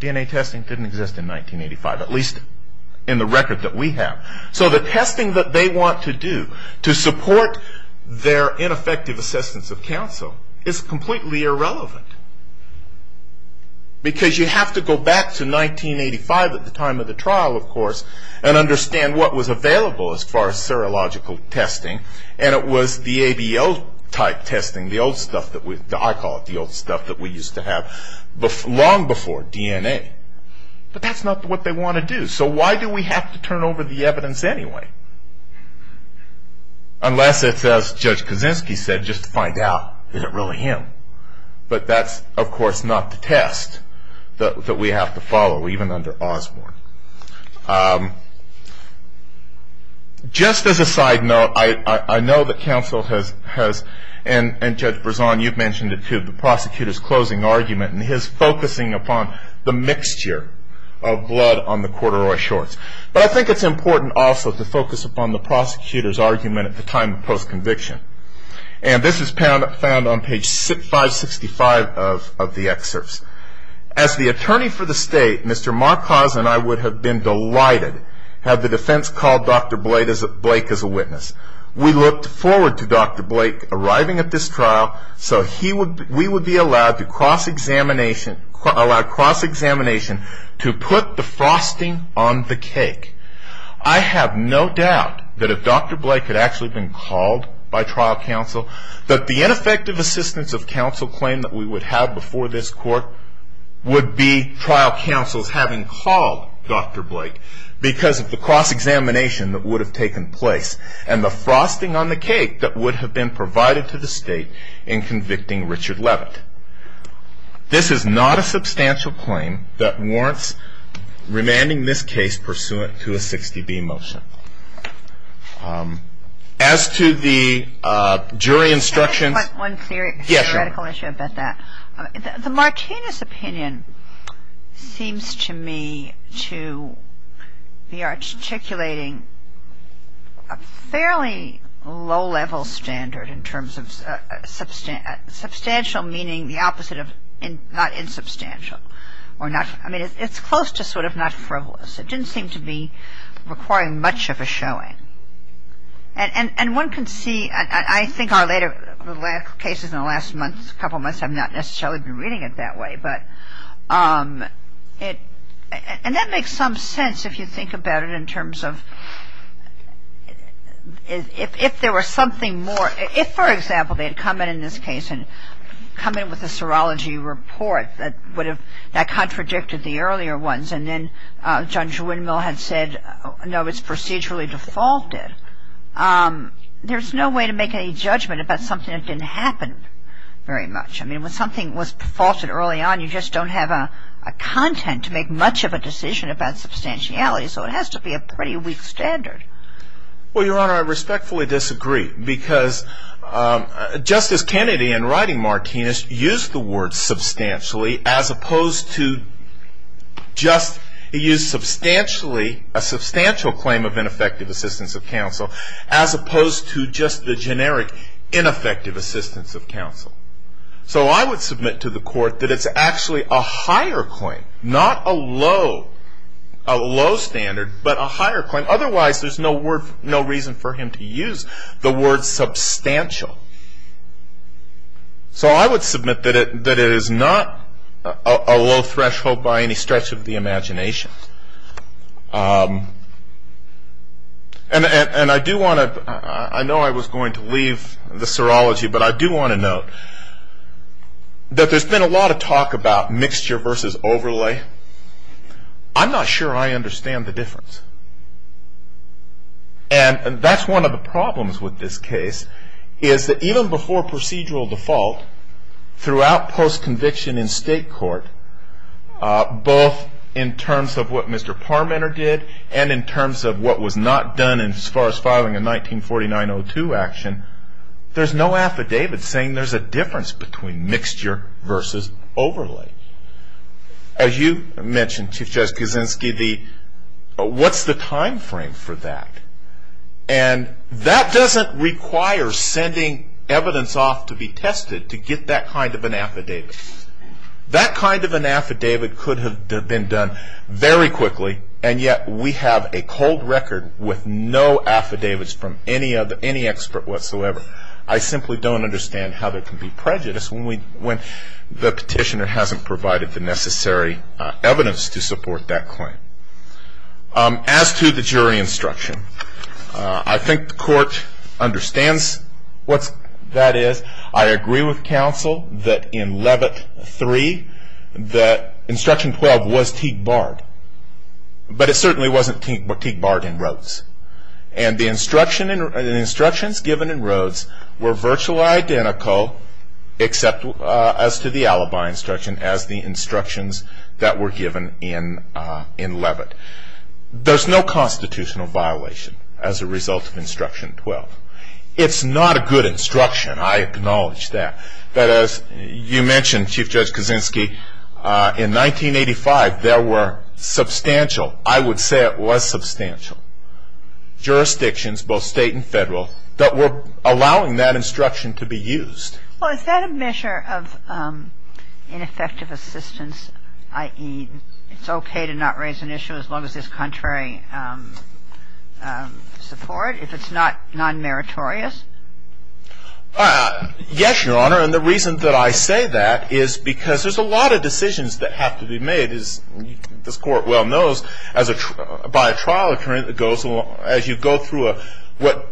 DNA testing didn't exist in 1985, at least in the record that we have. So the testing that they want to do to support their ineffective assistance of counsel is completely irrelevant. Because you have to go back to 1985 at the time of the trial, of course, and understand what was available as far as serological testing. And it was the ABL type testing, the old stuff that we, I call it the old stuff that we used to have, long before DNA. But that's not what they want to do. So why do we have to turn over the evidence anyway? Unless it's, as Judge Kaczynski said, just to find out, is it really him? But that's, of course, not the test that we have to follow, even under Osborne. Just as a side note, I know that counsel has, and Judge Berzon, you've mentioned it too, the prosecutor's closing argument and his focusing upon the mixture of blood on the corduroy shorts. But I think it's important also to focus upon the prosecutor's argument at the time of post-conviction. And this is found on page 565 of the excerpts. As the attorney for the state, Mr. Marcos and I would have been delighted had the defense called Dr. Blake as a witness. We looked forward to Dr. Blake arriving at this trial, so we would be allowed cross-examination to put the frosting on the cake. I have no doubt that if Dr. Blake had actually been called by trial counsel, that the ineffective assistance of counsel claim that we would have before this court would be trial counsel's having called Dr. Blake because of the cross-examination that would have taken place and the frosting on the cake that would have been provided to the state in convicting Richard Levitt. This is not a substantial claim that warrants remanding this case pursuant to a 60B motion. As to the jury instructions- It's a fairly low-level standard in terms of substantial meaning the opposite of not insubstantial. I mean, it's close to sort of not frivolous. It didn't seem to be requiring much of a showing. And one can see, I think our later cases in the last couple months have not necessarily been reading it that way. And that makes some sense if you think about it in terms of if there were something more- if, for example, they had come in in this case and come in with a serology report that would have- that contradicted the earlier ones, and then Judge Windmill had said, no, it's procedurally defaulted, there's no way to make any judgment about something that didn't happen very much. I mean, when something was defaulted early on, you just don't have a content to make much of a decision about substantiality. So it has to be a pretty weak standard. Well, Your Honor, I respectfully disagree. Because Justice Kennedy in writing Martinez used the word substantially as opposed to just- he used substantially- a substantial claim of ineffective assistance of counsel as opposed to just the generic ineffective assistance of counsel. So I would submit to the Court that it's actually a higher claim, not a low standard, but a higher claim. Otherwise there's no reason for him to use the word substantial. So I would submit that it is not a low threshold by any stretch of the imagination. And I do want to- I know I was going to leave the serology, but I do want to note that there's been a lot of talk about mixture versus overlay. I'm not sure I understand the difference. And that's one of the problems with this case, is that even before procedural default, throughout post-conviction in state court, both in terms of what Mr. Parmenter did and in terms of what was not done and as far as filing a 1949-02 action, there's no affidavit saying there's a difference between mixture versus overlay. As you mentioned, Chief Justice Kuczynski, what's the time frame for that? And that doesn't require sending evidence off to be tested to get that kind of an affidavit. That kind of an affidavit could have been done very quickly, and yet we have a cold record with no affidavits from any expert whatsoever. I simply don't understand how there can be prejudice when the petitioner hasn't provided the necessary evidence to support that claim. As to the jury instruction, I think the court understands what that is. I agree with counsel that in Levitt 3, instruction 12 was Teague-barred, but it certainly wasn't Teague-barred in Rhodes. And the instructions given in Rhodes were virtually identical, except as to the alibi instruction, as the instructions that were given in Levitt. There's no constitutional violation as a result of instruction 12. It's not a good instruction. I acknowledge that. But as you mentioned, Chief Justice Kuczynski, in 1985 there were substantial, I would say it was substantial, jurisdictions, both state and federal, that were allowing that instruction to be used. Well, is that a measure of ineffective assistance, i.e. it's okay to not raise an issue as long as there's contrary support? If it's not non-meritorious? Yes, Your Honor. And the reason that I say that is because there's a lot of decisions that have to be made, as this Court well knows, by a trial occurring, as you go through what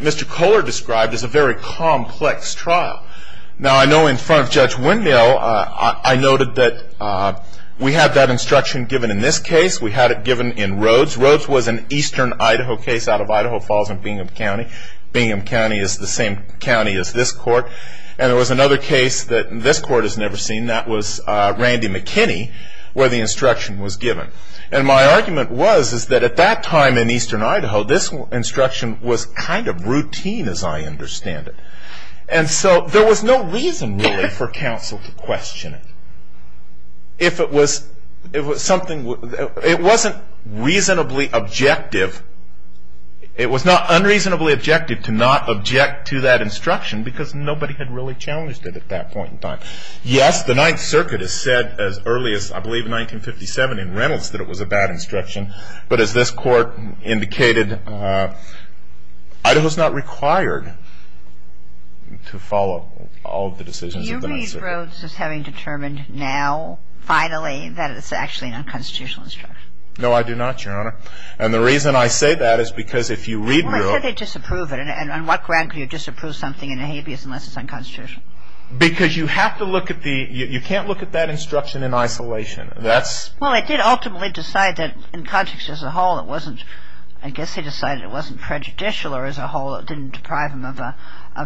Mr. Kohler described as a very complex trial. Now, I know in front of Judge Windell I noted that we had that instruction given in this case. We had it given in Rhodes. Rhodes was an eastern Idaho case out of Idaho Falls in Bingham County. Bingham County is the same county as this Court. And there was another case that this Court has never seen, that was Randy McKinney, where the instruction was given. And my argument was that at that time in eastern Idaho, this instruction was kind of routine as I understand it. And so there was no reason really for counsel to question it. It wasn't reasonably objective. It was not unreasonably objective to not object to that instruction because nobody had really challenged it at that point in time. Yes, the Ninth Circuit has said as early as, I believe, 1957 in Reynolds that it was a bad instruction. But as this Court indicated, Idaho is not required to follow all of the decisions of the Ninth Circuit. Do you read Rhodes as having determined now finally that it's actually an unconstitutional instruction? No, I do not, Your Honor. And the reason I say that is because if you read Rhodes ñ Well, they said they disapprove it. And on what ground could you disapprove something in a habeas unless it's unconstitutional? Because you have to look at the ñ you can't look at that instruction in isolation. Well, it did ultimately decide that in context as a whole it wasn't ñ I guess they decided it wasn't prejudicial as a whole, it didn't deprive them of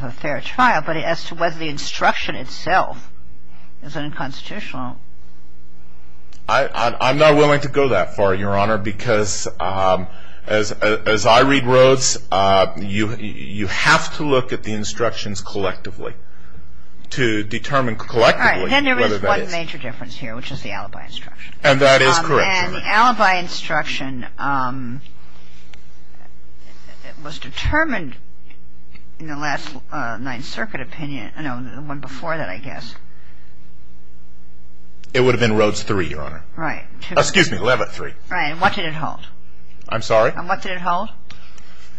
a fair trial. But as to whether the instruction itself is unconstitutional ñ I'm not willing to go that far, Your Honor, because as I read Rhodes, you have to look at the instructions collectively to determine collectively whether that is ñ All right. Then there is one major difference here, which is the alibi instruction. And that is correct. And the alibi instruction was determined in the last Ninth Circuit opinion ñ no, the one before that, I guess. It would have been Rhodes 3, Your Honor. Right. Excuse me, Levitt 3. Right. And what did it hold? I'm sorry? And what did it hold?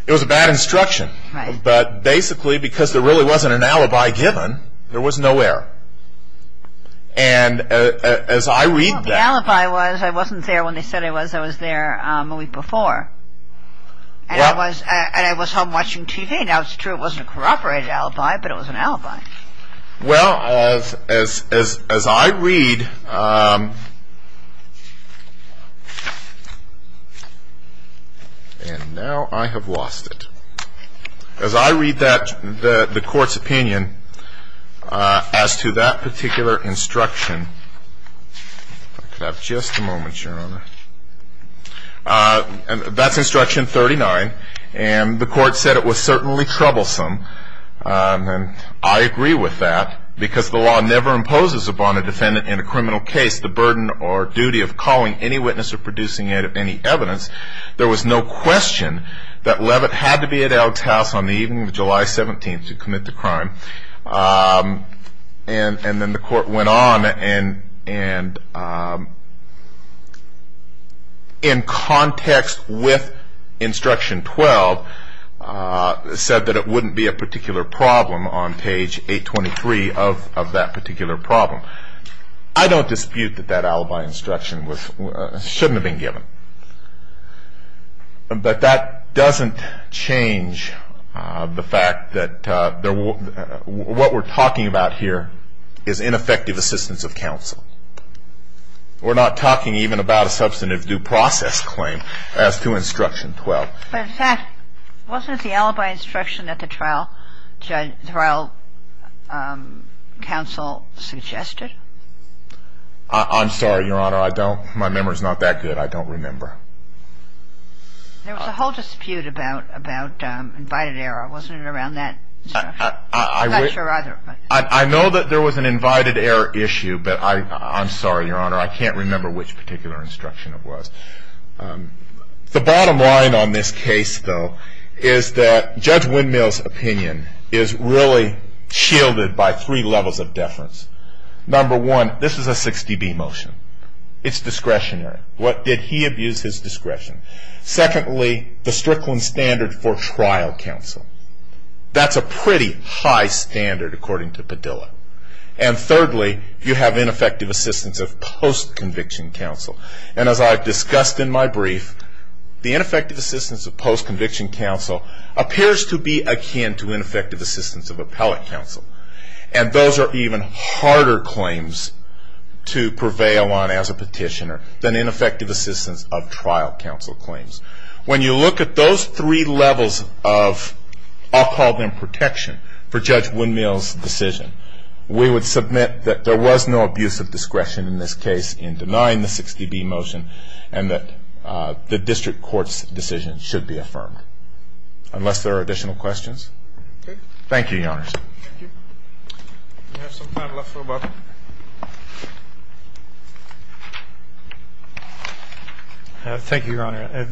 It was a bad instruction. Right. And as I read that ñ The alibi was ñ I wasn't there when they said I was. I was there a week before. And I was home watching TV. Now, it's true it wasn't a corroborated alibi, but it was an alibi. Well, as I read ñ and now I have lost it. As I read that ñ the Court's opinion as to that particular instruction ñ if I could have just a moment, Your Honor. That's Instruction 39. And the Court said it was certainly troublesome. And I agree with that because the law never imposes upon a defendant in a criminal case the burden or duty of calling any witness or producing any evidence. There was no question that Levitt had to be at Elk's house on the evening of July 17th to commit the crime. And then the Court went on and in context with Instruction 12, said that it wouldn't be a particular problem on page 823 of that particular problem. I don't dispute that that alibi instruction shouldn't have been given. But that doesn't change the fact that what we're talking about here is ineffective assistance of counsel. We're not talking even about a substantive due process claim as to Instruction 12. But in fact, wasn't it the alibi instruction that the trial counsel suggested? I'm sorry, Your Honor. I don't ñ my memory's not that good. I don't remember. There was a whole dispute about invited error. Wasn't it around that instruction? I'm not sure either. I know that there was an invited error issue. But I'm sorry, Your Honor. I can't remember which particular instruction it was. The bottom line on this case, though, is that Judge Windmill's opinion is really shielded by three levels of deference. Number one, this is a 6dB motion. It's discretionary. What did he abuse? His discretion. Secondly, the Strickland standard for trial counsel. That's a pretty high standard, according to Padilla. And thirdly, you have ineffective assistance of post-conviction counsel. And as I've discussed in my brief, the ineffective assistance of post-conviction counsel appears to be akin to ineffective assistance of appellate counsel. And those are even harder claims to prevail on as a petitioner than ineffective assistance of trial counsel claims. When you look at those three levels of, I'll call them protection, for Judge Windmill's decision, we would submit that there was no abuse of discretion in this case in denying the 6dB motion, and that the district court's decision should be affirmed, unless there are additional questions. Thank you, Your Honor. Thank you. We have some time left, so Bob. Thank you, Your Honor.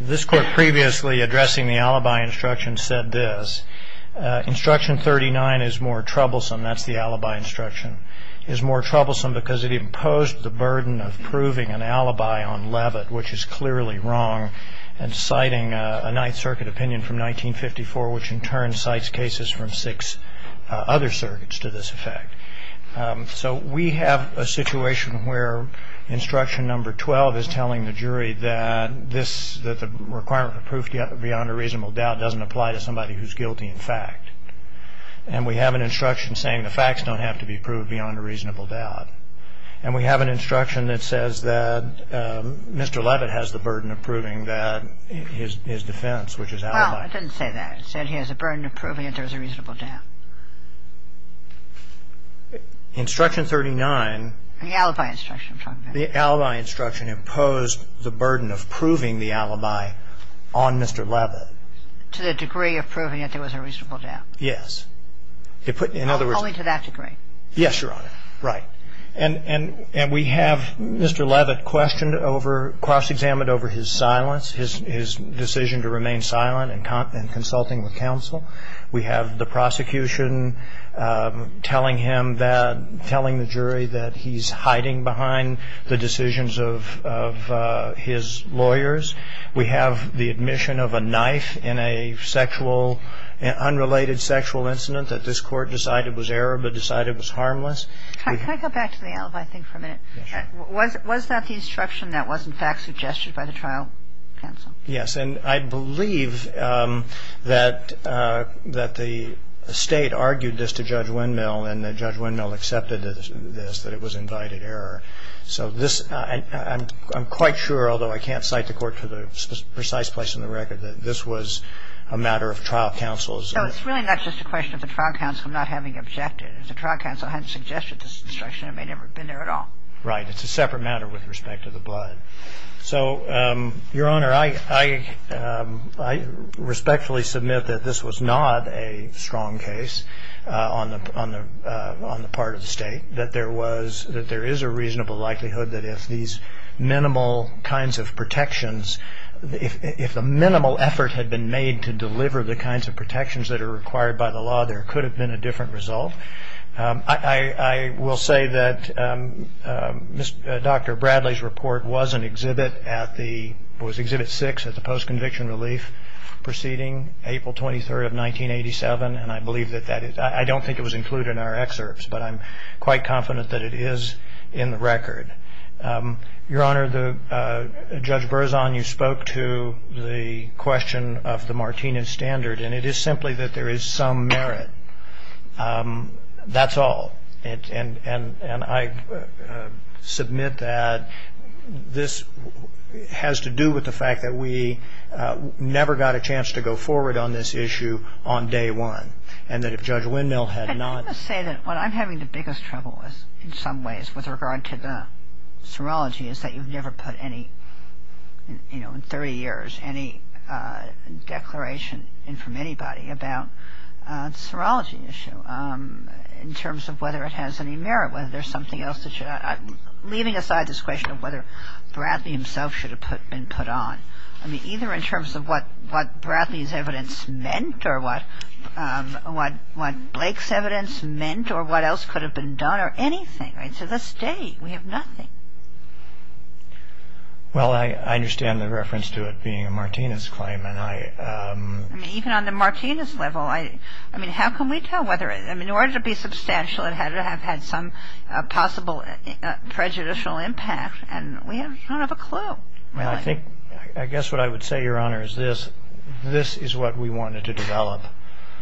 This Court previously, addressing the alibi instruction, said this. Instruction 39 is more troublesome. That's the alibi instruction. It's more troublesome because it imposed the burden of proving an alibi on Levitt, which is clearly wrong, and citing a Ninth Circuit opinion from 1954, which in turn cites cases from six other circuits to this effect. So we have a situation where instruction number 12 is telling the jury that this, that the requirement for proof beyond a reasonable doubt doesn't apply to somebody who's guilty in fact. And we have an instruction saying the facts don't have to be proved beyond a reasonable doubt. And we have an instruction that says that Mr. Levitt has the burden of proving that his defense, which is alibi. Well, it didn't say that. It said he has a burden of proving that there was a reasonable doubt. Instruction 39. The alibi instruction. The alibi instruction imposed the burden of proving the alibi on Mr. Levitt. To the degree of proving that there was a reasonable doubt. In other words. Only to that degree. Yes, Your Honor. Right. And we have Mr. Levitt questioned over, cross-examined over his silence, his decision to remain silent and consulting with counsel. We have the prosecution telling him that, telling the jury that he's hiding behind the decisions of his lawyers. We have the admission of a knife in a sexual, unrelated sexual incident that this Court decided was error but decided was harmless. Can I go back to the alibi thing for a minute? Yes, Your Honor. Was that the instruction that was in fact suggested by the trial counsel? Yes. And I believe that the State argued this to Judge Windmill. And Judge Windmill accepted this, that it was invited error. So this, I'm quite sure, although I can't cite the Court to the precise place in the record, that this was a matter of trial counsel's. So it's really not just a question of the trial counsel not having objected. If the trial counsel hadn't suggested this instruction, it may never have been there at all. Right. It's a separate matter with respect to the blood. So, Your Honor, I respectfully submit that this was not a strong case on the part of the State. I think that there was, that there is a reasonable likelihood that if these minimal kinds of protections, if the minimal effort had been made to deliver the kinds of protections that are required by the law, there could have been a different result. I will say that Dr. Bradley's report was an exhibit at the, was Exhibit 6 at the Post-Conviction Relief Proceeding, April 23rd of 1987. And I believe that that is, I don't think it was included in our excerpts, but I'm quite confident that it is in the record. Your Honor, Judge Berzon, you spoke to the question of the Martinez Standard, and it is simply that there is some merit. That's all. And I submit that this has to do with the fact that we never got a chance to go forward on this issue on day one, and that if Judge Windmill had not. I must say that what I'm having the biggest trouble with, in some ways, with regard to the serology is that you've never put any, you know, in 30 years, any declaration in from anybody about the serology issue in terms of whether it has any merit, whether there's something else that should. Leaving aside this question of whether Bradley himself should have been put on, I mean, either in terms of what Bradley's evidence meant, or what Blake's evidence meant, or what else could have been done, or anything, right? To this day, we have nothing. Well, I understand the reference to it being a Martinez claim, and I. I mean, even on the Martinez level, I mean, how can we tell whether. I mean, in order to be substantial, it had to have had some possible prejudicial impact, and we don't have a clue. Well, I think. I guess what I would say, Your Honor, is this. This is what we wanted to develop.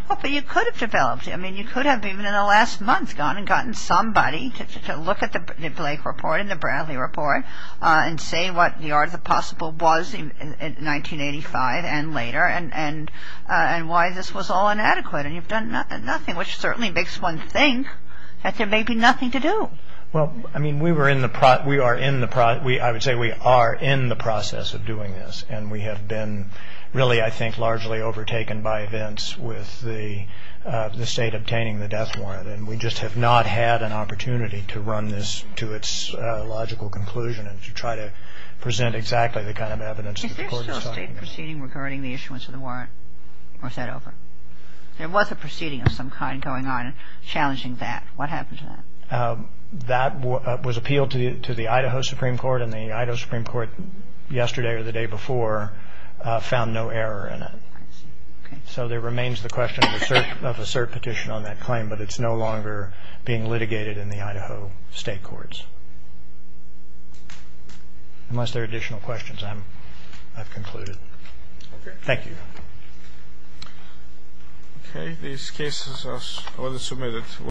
Well, but you could have developed it. I mean, you could have, even in the last month, to look at the Blake report and the Bradley report and say what the art of the possible was in 1985 and later, and why this was all inadequate, and you've done nothing, which certainly makes one think that there may be nothing to do. Well, I mean, we were in the. We are in the. I would say we are in the process of doing this, and we have been really, I think, largely overtaken by events with the state obtaining the death warrant, and we just have not had an opportunity to run this to its logical conclusion and to try to present exactly the kind of evidence that the court is talking about. Is there still state proceeding regarding the issuance of the warrant or is that over? There was a proceeding of some kind going on challenging that. What happened to that? That was appealed to the Idaho Supreme Court, and the Idaho Supreme Court yesterday or the day before found no error in it. I see. Okay. So there remains the question of a cert petition on that claim, but it's no longer being litigated in the Idaho state courts. Unless there are additional questions, I've concluded. Okay. Thank you. Okay. These cases are submitted.